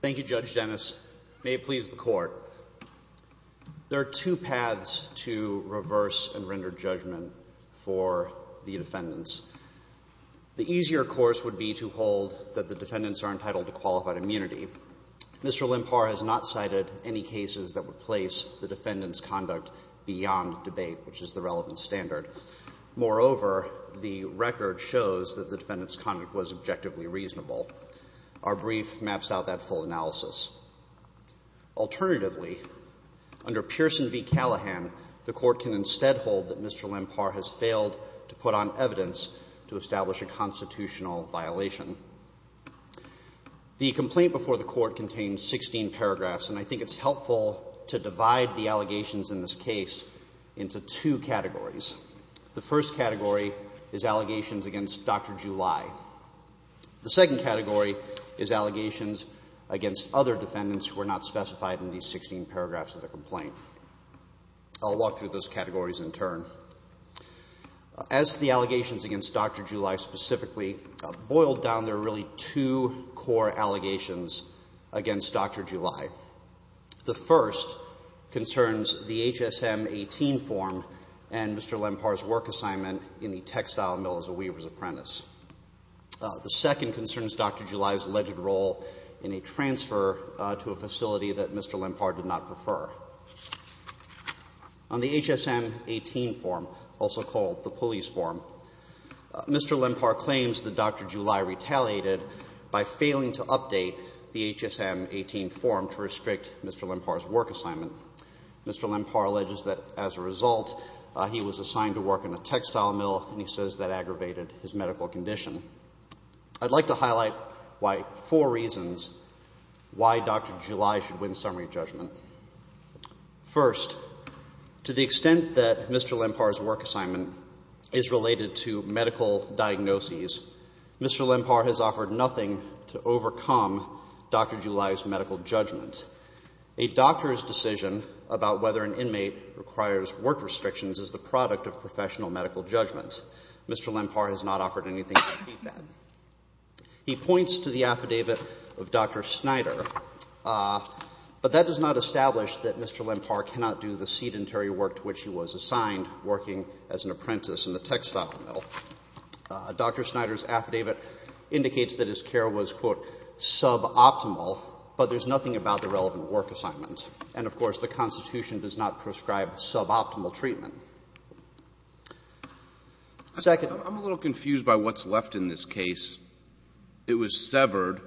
Thank you Judge Dennis. May it please the court. There are two paths to reverse and one of those would be to hold that the defendants are entitled to qualified immunity. Mr. Lempar has not cited any cases that would place the defendant's conduct beyond debate, which is the relevant standard. Moreover, the record shows that the defendant's conduct was objectively reasonable. Our brief maps out that full analysis. Alternatively, under Pearson v. Callahan, the court can instead hold that Mr. Lempar has failed to put on evidence to establish a constitutional violation. The complaint before the court contains 16 paragraphs and I think it's helpful to divide the allegations in this case into two categories. The first category is allegations against Dr. Juli. The second category is allegations against other defendants who are not specified in these 16 paragraphs of the complaint. I'll walk through those as the allegations against Dr. Juli specifically. Boiled down, there are really two core allegations against Dr. Juli. The first concerns the H.S.M. 18 form and Mr. Lempar's work assignment in the textile mill as a weaver's apprentice. The second concerns Dr. Juli's alleged role in a transfer to a facility that Mr. Lempar did not Mr. Lempar claims that Dr. Juli retaliated by failing to update the H.S.M. 18 form to restrict Mr. Lempar's work assignment. Mr. Lempar alleges that as a result, he was assigned to work in a textile mill and he says that aggravated his medical condition. I'd like to highlight four reasons why Dr. Juli should win summary judgment. First, to the extent that Mr. Lempar's work assignment is related to medical diagnoses, Mr. Lempar has offered nothing to overcome Dr. Juli's medical judgment. A doctor's decision about whether an inmate requires work restrictions is the product of professional medical judgment. Mr. Lempar has not offered anything to defeat that. He points to the sedentary work to which he was assigned, working as an apprentice in the textile mill. Dr. Snyder's affidavit indicates that his care was, quote, suboptimal, but there's nothing about the relevant work assignment. And, of course, the Constitution does not prescribe suboptimal treatment. Second. I'm a little confused by what's left in this case. It was severed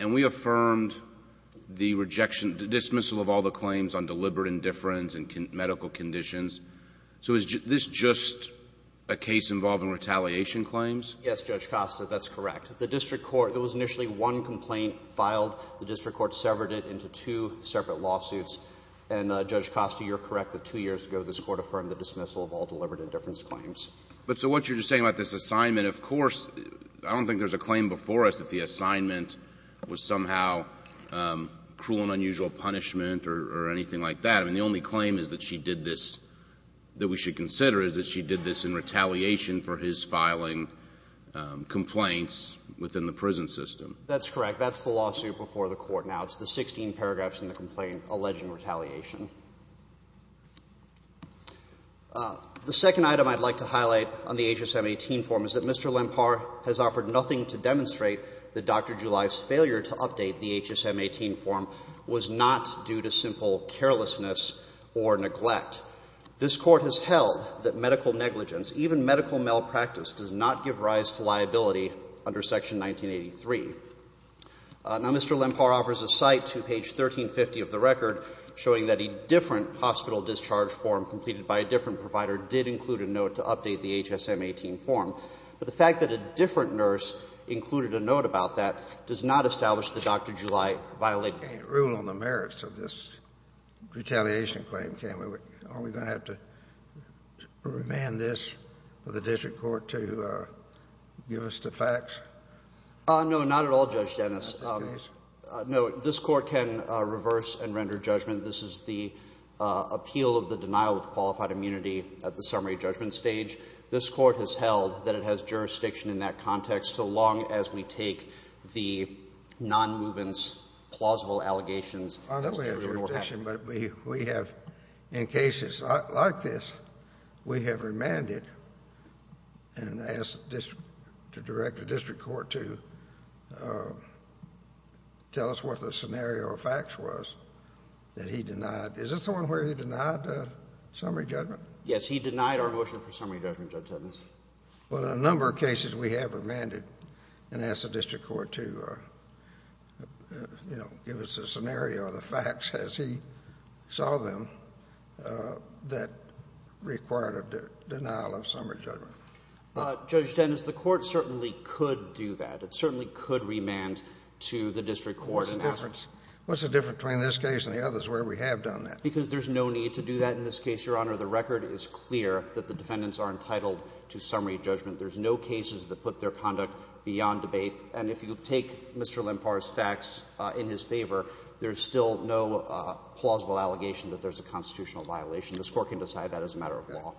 and we affirmed the rejection, the dismissal of all the claims on deliberate indifference and medical conditions. So is this just a case involving retaliation claims? Yes, Judge Costa, that's correct. The district court – there was initially one complaint filed. The district court severed it into two separate lawsuits. And, Judge Costa, you're correct that two years ago this Court affirmed the dismissal of all deliberate indifference claims. But so what you're just saying about this assignment, of course, I don't think there's a claim before us that the assignment was somehow cruel and unusual punishment or anything like that. I mean, the only claim is that she did this – that we should consider is that she did this in retaliation for his filing complaints within the prison system. That's correct. That's the lawsuit before the Court now. It's the 16 paragraphs in the complaint alleging retaliation. The second item I'd like to highlight on the H.S.M. 18 form is that Mr. Lempar has offered nothing to demonstrate that Dr. July's failure to update the H.S.M. 18 form was not due to simple carelessness or neglect. This Court has held that medical negligence, even medical malpractice, does not give rise to liability under Section 1983. Now, Mr. Lempar offers a cite to page 1350 of the record showing that a different hospital discharge form completed by a different provider did include a note to update the H.S.M. 18 form. But the fact that a different nurse included a note about that does not establish that Dr. July violated it. Can't rule on the merits of this retaliation claim, can we? Are we going to have to remand this for the district court to give us the facts? No, not at all, Judge Dennis. I think it is. No. This Court can reverse and render judgment. This is the appeal of the denial of qualified immunity at the summary judgment stage. This Court has held that it has jurisdiction in that context so long as we take the nonmovance plausible allegations as true. I know we have jurisdiction, but we have, in cases like this, we have remanded and asked the district to direct the district court to tell us what the scenario or facts was that he denied. Is this the one where he denied summary judgment? Yes. He denied our motion for summary judgment, Judge Dennis. But a number of cases we have remanded and asked the district court to, you know, give us a scenario or the facts as he saw them that required a denial of summary judgment. Judge Dennis, the court certainly could do that. It certainly could remand to the district court and ask for the summary judgment. What's the difference between this case and the others where we have done that? Because there's no need to do that in this case, Your Honor. The record is clear that the defendants are entitled to summary judgment. There's no cases that put their conduct beyond debate. And if you take Mr. Lempar's facts in his favor, there's still no plausible allegation that there's a constitutional violation. This Court can decide that as a matter of law.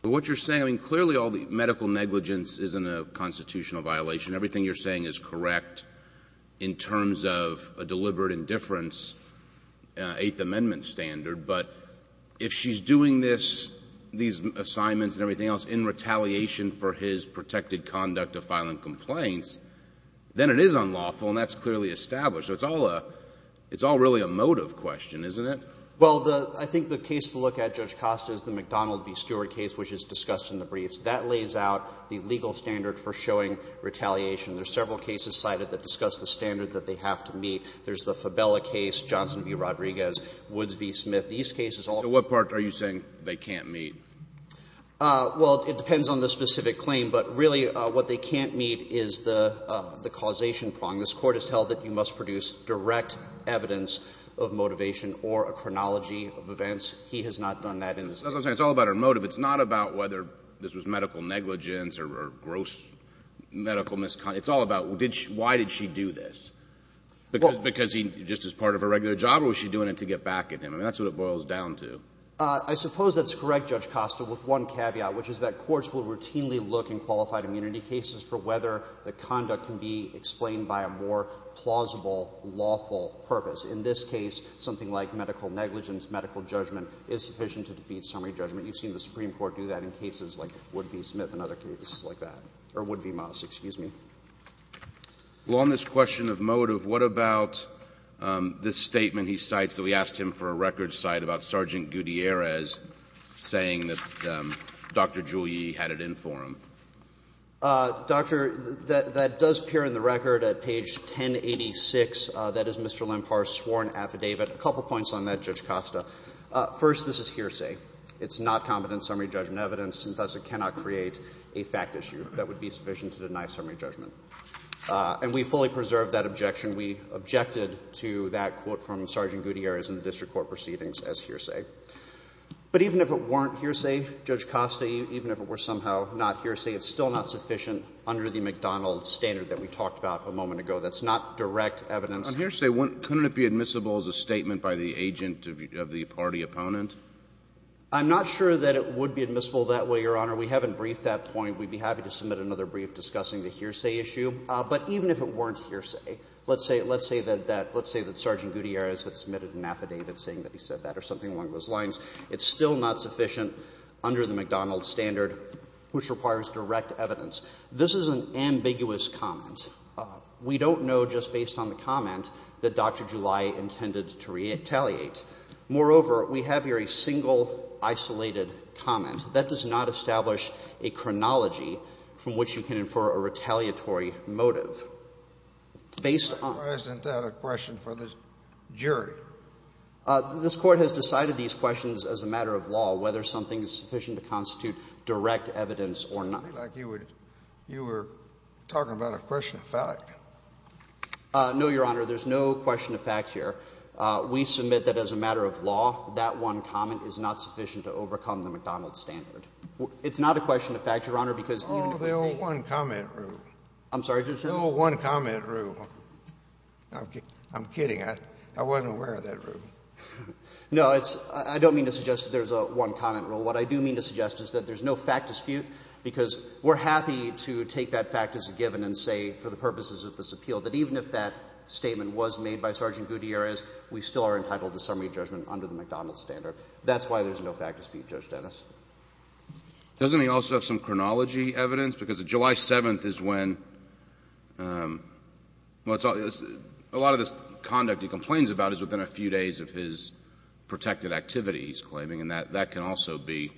But what you're saying, I mean, clearly all the medical negligence isn't a constitutional violation. Everything you're saying is correct in terms of a deliberate indifference Eighth Amendment standard. But if she's doing this, these assignments and everything else in retaliation for his protected conduct of filing complaints, then it is unlawful, and that's clearly established. So it's all really a motive question, isn't it? Well, I think the case to look at, Judge Costa, is the McDonald v. Stewart case, which is discussed in the briefs. That lays out the legal standard for showing retaliation. There are several cases cited that discuss the standard that they have to meet. There's the Fabella case, Johnson v. Rodriguez, Woods v. Smith. These cases all are. So what part are you saying they can't meet? Well, it depends on the specific claim. But really what they can't meet is the causation prong. This Court has held that you must produce direct evidence of motivation or a chronology of events. He has not done that in this case. That's what I'm saying. It's all about our motive. It's not about whether this was medical negligence or gross medical misconduct. It's all about why did she do this? Because he just is part of her regular job, or was she doing it to get back at him? I mean, that's what it boils down to. I suppose that's correct, Judge Costa, with one caveat, which is that courts will routinely look in qualified immunity cases for whether the conduct can be explained by a more plausible lawful purpose. In this case, something like medical negligence, medical judgment is sufficient to defeat summary judgment. You've seen the Supreme Court do that in cases like Wood v. Smith and other cases like that, or Wood v. Moss, excuse me. Well, on this question of motive, what about this statement he cites that we asked him for a record cite about Sergeant Gutierrez saying that Dr. Giulie had it in for him? Doctor, that does appear in the record at page 1086. That is Mr. Lempar's sworn affidavit. A couple points on that, Judge Costa. First, this is hearsay. It's not competent summary judgment evidence, and thus it cannot create a fact issue that would be sufficient to deny summary judgment. And we fully preserve that objection. We objected to that quote from Sergeant Gutierrez in the district court proceedings as hearsay. But even if it weren't hearsay, Judge Costa, even if it were somehow not hearsay, it's still not sufficient under the McDonald standard that we talked about a moment ago. That's not direct evidence. On hearsay, couldn't it be admissible as a statement by the agent of the party opponent? I'm not sure that it would be admissible that way, Your Honor. We haven't briefed that point. We'd be happy to submit another brief discussing the hearsay issue. But even if it weren't hearsay, let's say that Sergeant Gutierrez had submitted an affidavit saying that he said that or something along those lines, it's still not sufficient under the McDonald standard, which requires direct evidence. This is an ambiguous comment. We don't know just based on the comment that Dr. Giulie intended to retaliate. Moreover, we have here a single, isolated comment. That does not establish a chronology from which you can infer a retaliatory motive. Based on the question for the jury. This Court has decided these questions as a matter of law, whether something is sufficient to constitute direct evidence or not. You were talking about a question of fact. No, Your Honor. There's no question of fact here. We submit that as a matter of law, that one comment is not sufficient to overcome the McDonald standard. It's not a question of fact, Your Honor, because even if we take it. Oh, the old one-comment rule. I'm sorry, Justice Sotomayor? The old one-comment rule. I'm kidding. I wasn't aware of that rule. No, it's — I don't mean to suggest that there's a one-comment rule. What I do mean to suggest is that there's no fact dispute, because we're happy to take that fact as a given and say, for the purposes of this appeal, that even if that statement was made by Sergeant Gutierrez, we still are entitled to summary judgment under the McDonald standard. That's why there's no fact dispute, Judge Dennis. Doesn't he also have some chronology evidence? Because July 7th is when — well, a lot of this conduct he complains about is within a few days of his protected activity, he's claiming, and that can also be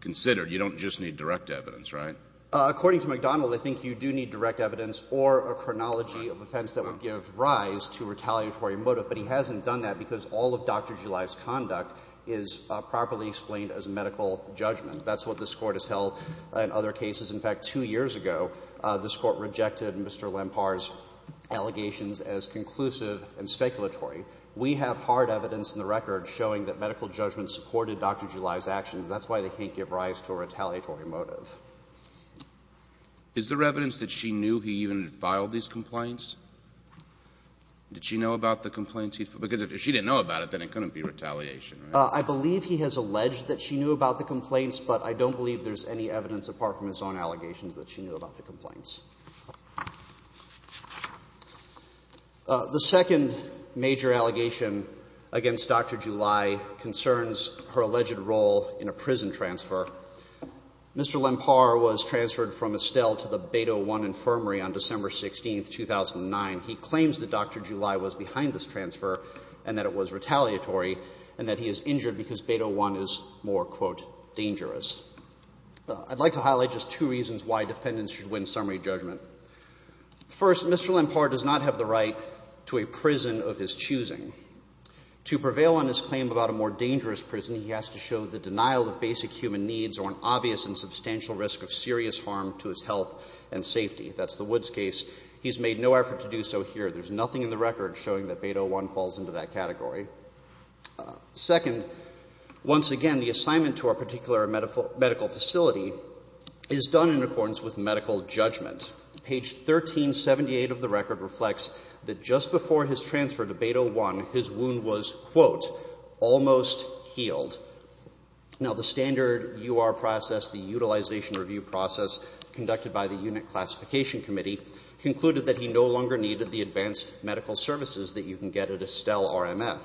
considered. You don't just need direct evidence, right? According to McDonald, I think you do need direct evidence or a chronology of offense that would give rise to a retaliatory motive, but he hasn't done that because all of Dr. July's conduct is properly explained as medical judgment. That's what this Court has held in other cases. In fact, two years ago, this Court rejected Mr. Lempar's allegations as conclusive and speculatory. We have hard evidence in the record showing that medical judgment supported Dr. July's actions. That's why they can't give rise to a retaliatory motive. Is there evidence that she knew he even filed these complaints? Did she know about the complaints he filed? Because if she didn't know about it, then it couldn't be retaliation, right? I believe he has alleged that she knew about the complaints, but I don't believe there's any evidence apart from his own allegations that she knew about the complaints. The second major allegation against Dr. July concerns her alleged role in a prison transfer. Mr. Lempar was transferred from Estelle to the Beto I Infirmary on December 16, 2009. He claims that Dr. July was behind this transfer and that it was retaliatory and that he is injured because Beto I is more, quote, dangerous. I'd like to highlight just two reasons why defendants should win summary judgment. First, Mr. Lempar does not have the right to a prison of his choosing. To prevail on his claim about a more dangerous prison, he has to show the denial of basic human needs or an obvious and substantial risk of serious harm to his health and safety. That's the Woods case. He's made no effort to do so here. There's nothing in the record showing that Beto I falls into that category. Second, once again, the assignment to our particular medical facility is done in accordance with medical judgment. Page 1378 of the record reflects that just before his transfer to Beto I, his wound was, quote, almost healed. Now, the standard U.R. process, the utilization review process conducted by the Unit Classification Committee concluded that he no longer needed the advanced medical services that you can get at Estelle RMF.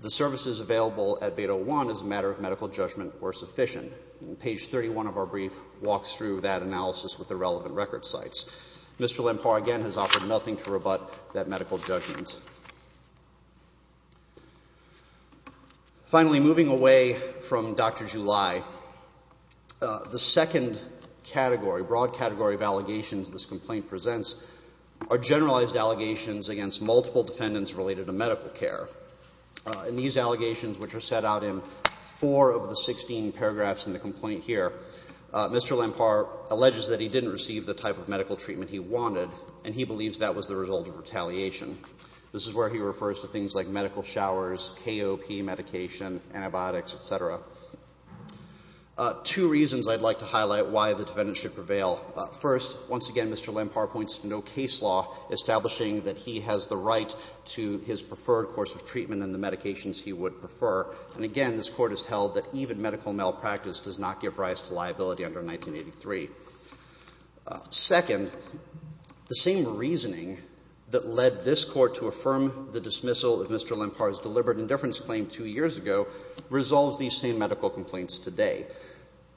The services available at Beto I as a matter of medical judgment were sufficient. And page 31 of our brief walks through that analysis with the relevant record sites. Mr. Lempar, again, has offered nothing to rebut that medical judgment. Finally, moving away from Dr. July, the second category, broad category of allegations this complaint presents are generalized allegations against multiple defendants related to medical care. And these allegations, which are set out in four of the 16 paragraphs in the complaint here, Mr. Lempar alleges that he didn't receive the type of medical treatment he wanted, and he believes that was the result of retaliation. This is where he refers to things like medical showers, KOP medication, antibiotics, et cetera. Two reasons I'd like to highlight why the defendant should prevail. First, once again, Mr. Lempar points to no case law establishing that he has the right to his preferred course of treatment and the medications he would prefer. And again, this Court has held that even medical malpractice does not give rise to liability under 1983. Second, the same reasoning that led this Court to affirm the dismissal of Mr. Lempar's deliberate indifference claim two years ago resolves these same medical complaints today.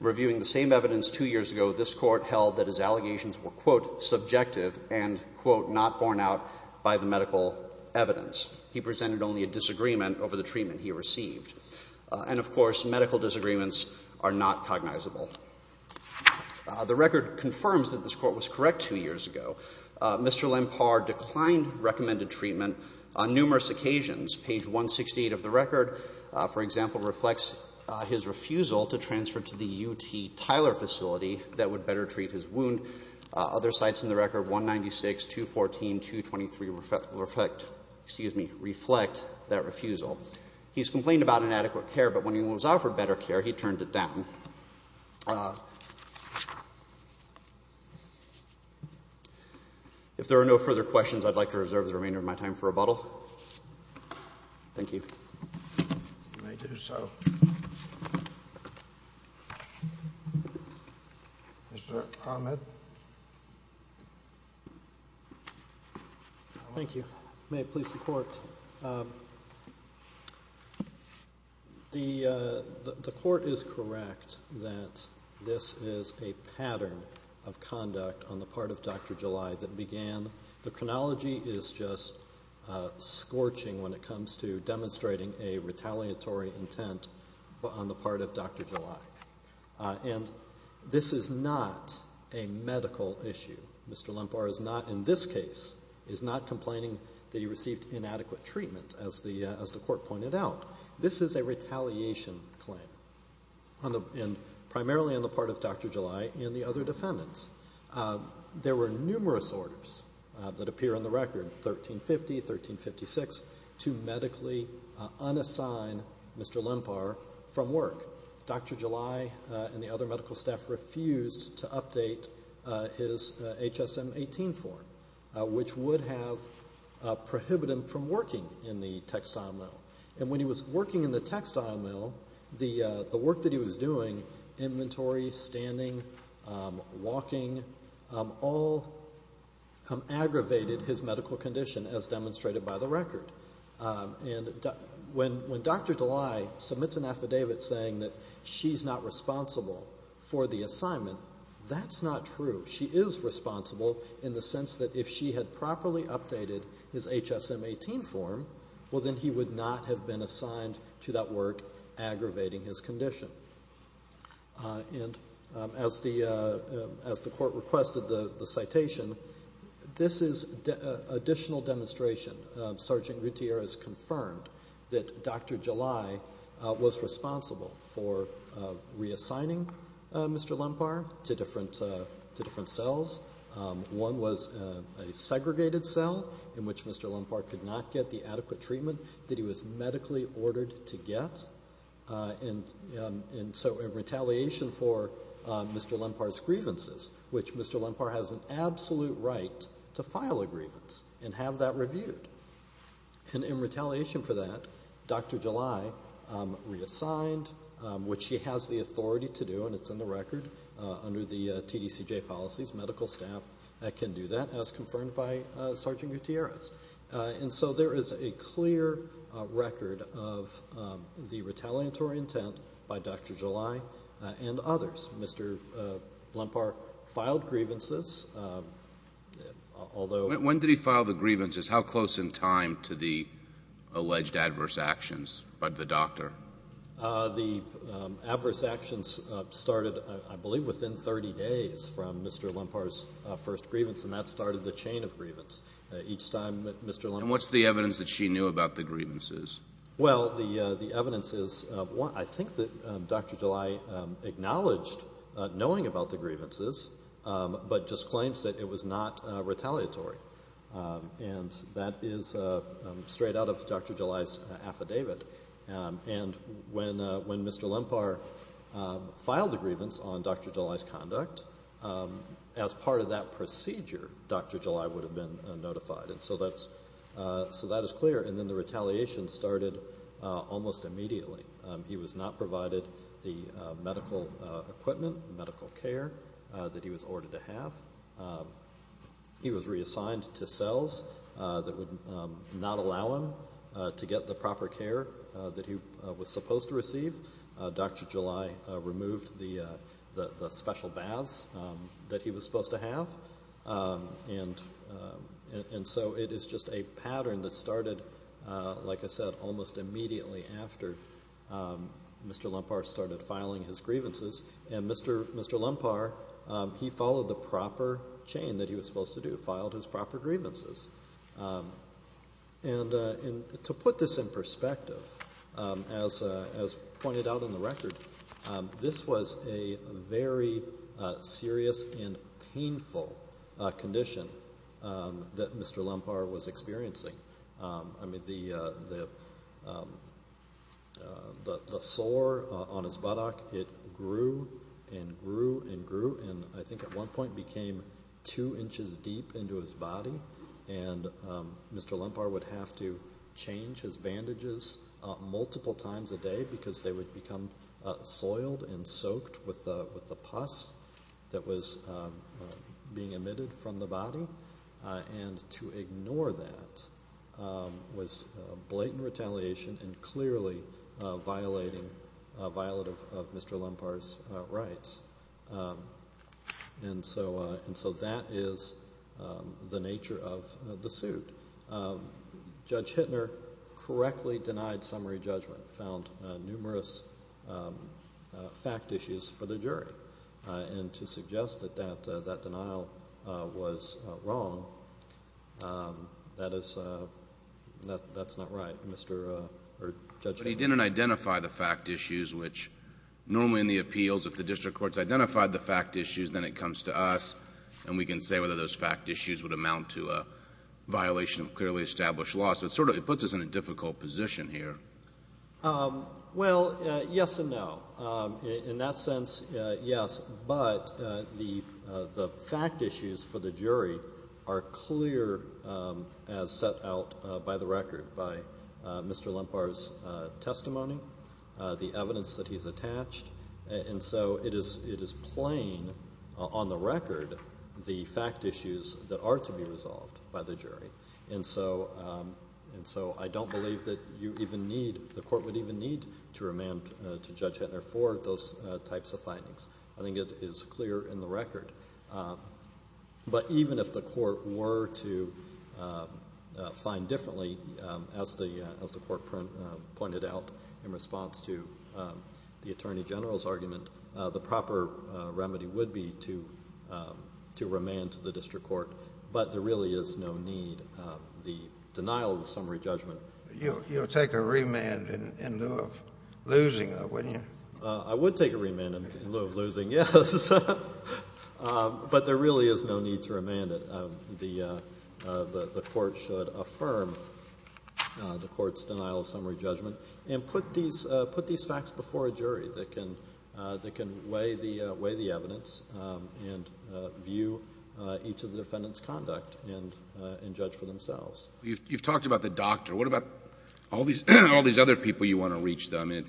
Reviewing the same evidence two years ago, this Court held that his allegations were, quote, subjective and, quote, not borne out by the medical evidence. He presented only a disagreement over the treatment he received. And, of course, medical disagreements are not cognizable. The record confirms that this Court was correct two years ago. Mr. Lempar declined recommended treatment on numerous occasions. Page 168 of the record, for example, reflects his refusal to transfer to the UT Tyler facility that would better treat his wound. Other sites in the record, 196, 214, 223 reflect that refusal. He's complained about inadequate care, but when he was offered better care, he turned it down. If there are no further questions, I'd like to reserve the remainder of my time for rebuttal. Thank you. You may do so. Mr. Ahmed? Thank you. May it please the Court. The Court is correct that this is a pattern of conduct on the part of Dr. July that began. The chronology is just scorching when it comes to demonstrating a retaliatory intent on the part of Dr. July. And this is not a medical issue. Mr. Lempar is not, in this case, is not complaining that he received inadequate treatment, as the Court pointed out. This is a retaliation claim, primarily on the part of Dr. July and the other defendants. There were numerous orders that appear in the record, 1350, 1356, to medically unassign Mr. Lempar from work. Dr. July and the other medical staff refused to update his HSM-18 form, which would have prohibited him from working in the textile mill. And when he was working in the textile mill, the work that he was doing, inventory, standing, walking, all aggravated his medical condition, as demonstrated by the record. And when Dr. July submits an affidavit saying that she's not responsible for the assignment, that's not true. She is responsible in the sense that if she had properly updated his HSM-18 form, well, then he would not have been assigned to that work, aggravating his condition. And as the Court requested the citation, this is additional demonstration. Sergeant Gutierrez confirmed that Dr. July was responsible for reassigning Mr. Lempar to different cells. One was a segregated cell, in which Mr. Lempar could not get the adequate treatment that he was medically ordered to get. And so in retaliation for Mr. Lempar's grievances, which Mr. Lempar has an absolute right to file a grievance and have that reviewed. And in retaliation for that, Dr. July reassigned, which she has the authority to do, and it's in the record under the TDCJ policies. Medical staff can do that, as confirmed by Sergeant Gutierrez. And so there is a clear record of the retaliatory intent by Dr. July and others. Mr. Lempar filed grievances, although— When did he file the grievances? How close in time to the alleged adverse actions by the doctor? The adverse actions started, I believe, within 30 days from Mr. Lempar's first grievance, and that started the chain of grievance. Each time that Mr. Lempar— And what's the evidence that she knew about the grievances? Well, the evidence is—I think that Dr. July acknowledged knowing about the grievances, but just claims that it was not retaliatory. And that is straight out of Dr. July's affidavit. And when Mr. Lempar filed the grievance on Dr. July's conduct, as part of that procedure, Dr. July would have been notified, and so that is clear. And then the retaliation started almost immediately. He was not provided the medical equipment, medical care that he was ordered to have. He was reassigned to cells that would not allow him to get the proper care that he was supposed to receive. Dr. July removed the special baths that he was supposed to have. And so it is just a pattern that started, like I said, almost immediately after Mr. Lempar started filing his grievances. And Mr. Lempar, he followed the proper chain that he was supposed to do, filed his proper grievances. And to put this in perspective, as pointed out in the record, this was a very serious and painful condition that Mr. Lempar was experiencing. I mean, the sore on his buttock, it grew and grew and grew, and I think at one point became two inches deep into his body, and Mr. Lempar would have to change his bandages multiple times a day because they would become soiled and soaked with the pus that was being emitted from the body. And to ignore that was blatant retaliation and clearly a violation of Mr. Lempar's rights. And so that is the nature of the suit. Judge Hittner correctly denied summary judgment, found numerous fact issues for the jury, and to suggest that that denial was wrong, that is not right, Judge Hittner. But he didn't identify the fact issues, which normally in the appeals, if the district courts identify the fact issues, then it comes to us and we can say whether those fact issues would amount to a violation of clearly established law. So it sort of puts us in a difficult position here. Well, yes and no. In that sense, yes, but the fact issues for the jury are clear as set out by the record, by Mr. Lempar's testimony, the evidence that he's attached, and so it is plain on the record the fact issues that are to be resolved by the jury. And so I don't believe that you even need, the court would even need to remand to Judge Hittner for those types of findings. I think it is clear in the record. But even if the court were to find differently, as the court pointed out in response to the Attorney General's argument, the proper remedy would be to remand to the district court. But there really is no need. The denial of the summary judgment. You'll take a remand in lieu of losing, though, wouldn't you? I would take a remand in lieu of losing, yes. But there really is no need to remand. The court should affirm the court's denial of summary judgment and put these facts before a jury that can weigh the evidence and view each of the defendants' conduct and judge for themselves. You've talked about the doctor. What about all these other people you want to reach, though? I mean,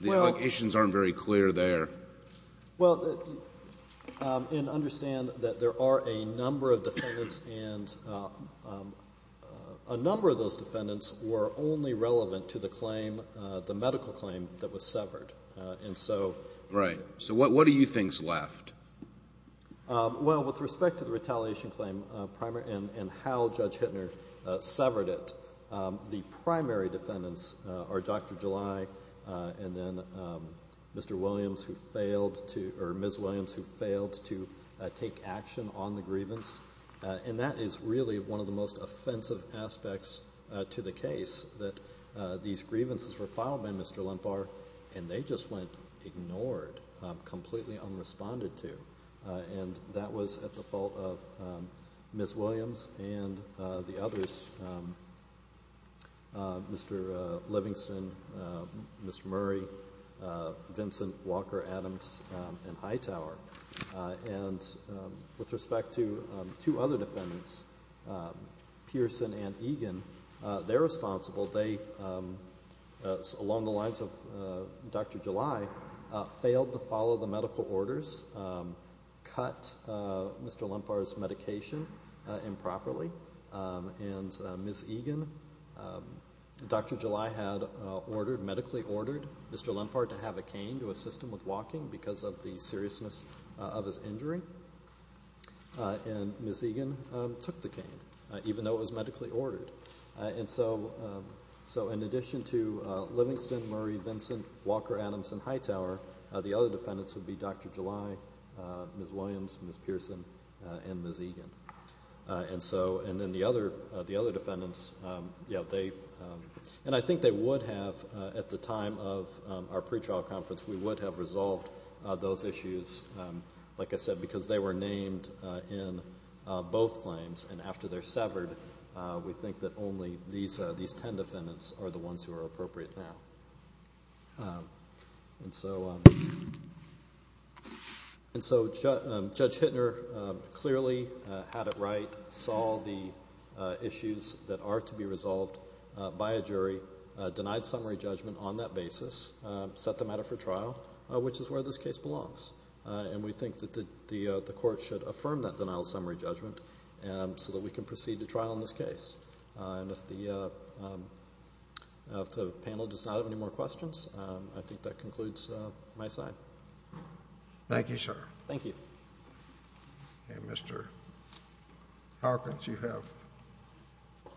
the allegations aren't very clear there. Well, and understand that there are a number of defendants, and a number of those defendants were only relevant to the claim, the medical claim, that was severed. Right. So what do you think is left? Well, with respect to the retaliation claim and how Judge Hittner severed it, the primary defendants are Dr. July and then Mr. Williams who failed to or Ms. Williams who failed to take action on the grievance. And that is really one of the most offensive aspects to the case, that these grievances were filed by Mr. Lempar and they just went ignored, completely unresponded to. And that was at the fault of Ms. Williams and the others, Mr. Livingston, Mr. Murray, Vincent Walker-Adams, and Hightower. And with respect to two other defendants, Pearson and Egan, they're responsible. They, along the lines of Dr. July, failed to follow the medical orders, cut Mr. Lempar's medication improperly. And Ms. Egan, Dr. July had ordered, medically ordered Mr. Lempar to have a cane to assist him with walking because of the seriousness of his injury. And Ms. Egan took the cane, even though it was medically ordered. And so in addition to Livingston, Murray, Vincent, Walker-Adams, and Hightower, the other defendants would be Dr. July, Ms. Williams, Ms. Pearson, and Ms. Egan. And then the other defendants, and I think they would have, at the time of our pretrial conference, we would have resolved those issues, like I said, because they were named in both claims. And after they're severed, we think that only these ten defendants are the ones who are appropriate now. And so Judge Hittner clearly had it right, saw the issues that are to be resolved by a jury, denied summary judgment on that basis, set the matter for trial, which is where this case belongs. And we think that the Court should affirm that denial of summary judgment so that we can proceed to trial in this case. And if the panel does not have any more questions, I think that concludes my side. Thank you, sir. Thank you. And Mr. Hawkins, you have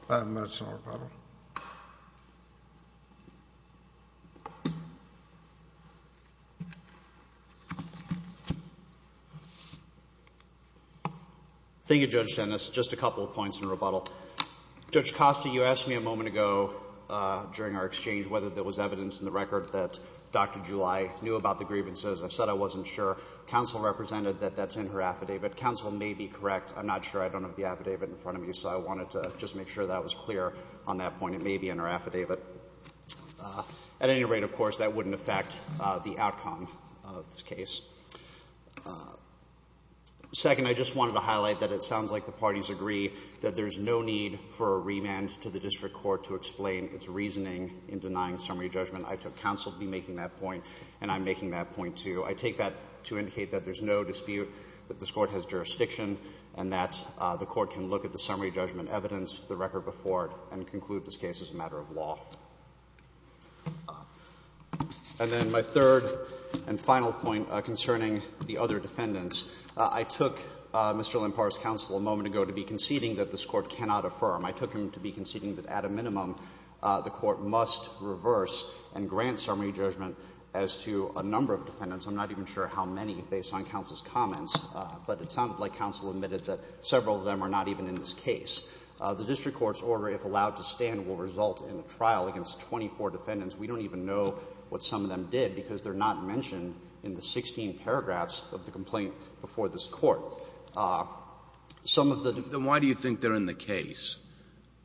five minutes in rebuttal. Thank you, Judge Dennis. Just a couple of points in rebuttal. Judge Costa, you asked me a moment ago during our exchange whether there was evidence in the record that Dr. July knew about the grievances. I said I wasn't sure. Counsel represented that that's in her affidavit. Counsel may be correct. I'm not sure. I don't have the affidavit in front of me, so I wanted to just make sure that was clear on that point. It may be in her affidavit. At any rate, of course, that wouldn't affect the outcome of this case. Second, I just wanted to highlight that it sounds like the parties agree that there's no need for a remand to the district court to explain its reasoning in denying summary judgment. I took counsel to be making that point, and I'm making that point, too. I take that to indicate that there's no dispute, that this Court has jurisdiction, and that the Court can look at the summary judgment evidence, the record before it, and conclude this case is a matter of law. And then my third and final point concerning the other defendants. I took Mr. Lempar's counsel a moment ago to be conceding that this Court cannot affirm. I took him to be conceding that, at a minimum, the Court must reverse and grant summary judgment as to a number of defendants. I'm not even sure how many, based on counsel's comments, but it sounded like counsel admitted that several of them are not even in this case. The district court's order, if allowed to stand, will result in a trial against 24 defendants. We don't even know what some of them did, because they're not mentioned in the 16 paragraphs of the complaint before this Court. Some of the defendants. And why do you think they're in the case?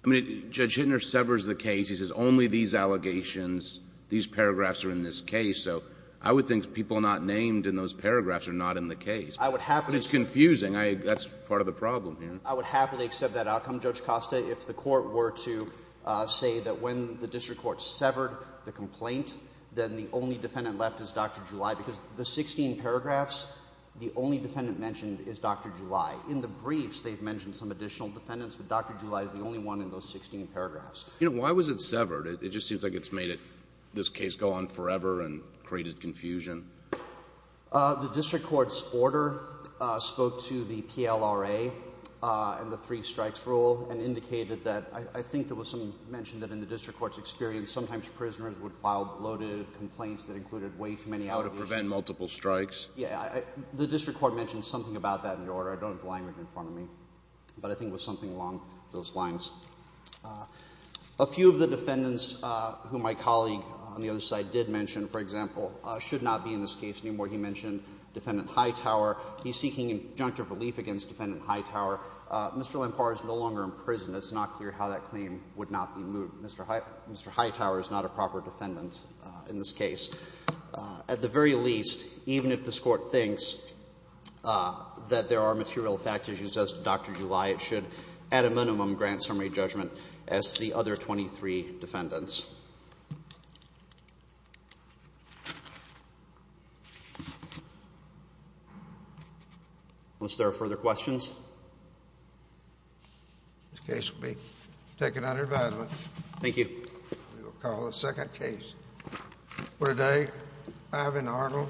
I mean, Judge Hittner severs the case. He says only these allegations, these paragraphs are in this case. So I would think people not named in those paragraphs are not in the case. It's confusing. That's part of the problem here. I would happily accept that outcome, Judge Costa, if the Court were to say that when the district court severed the complaint, then the only defendant left is Dr. July, because the 16 paragraphs, the only defendant mentioned is Dr. July. In the briefs, they've mentioned some additional defendants, but Dr. July is the only one in those 16 paragraphs. Why was it severed? It just seems like it's made this case go on forever and created confusion. The district court's order spoke to the PLRA and the three strikes rule and indicated that I think there was some mention that in the district court's experience, sometimes prisoners would file bloated complaints that included way too many allegations. To prevent multiple strikes. Yes. The district court mentioned something about that in the order. I don't have the language in front of me, but I think it was something along those lines. A few of the defendants who my colleague on the other side did mention, for example, should not be in this case anymore. He mentioned Defendant Hightower. He's seeking injunctive relief against Defendant Hightower. Mr. Lampar is no longer in prison. It's not clear how that claim would not be moved. Mr. Hightower is not a proper defendant in this case. At the very least, even if this Court thinks that there are material fact issues as to Dr. July, it should at a minimum grant summary judgment as to the other 23 defendants. Unless there are further questions. This case will be taken under advisement. Thank you. We will call the second case. For today, Ivan Arnold.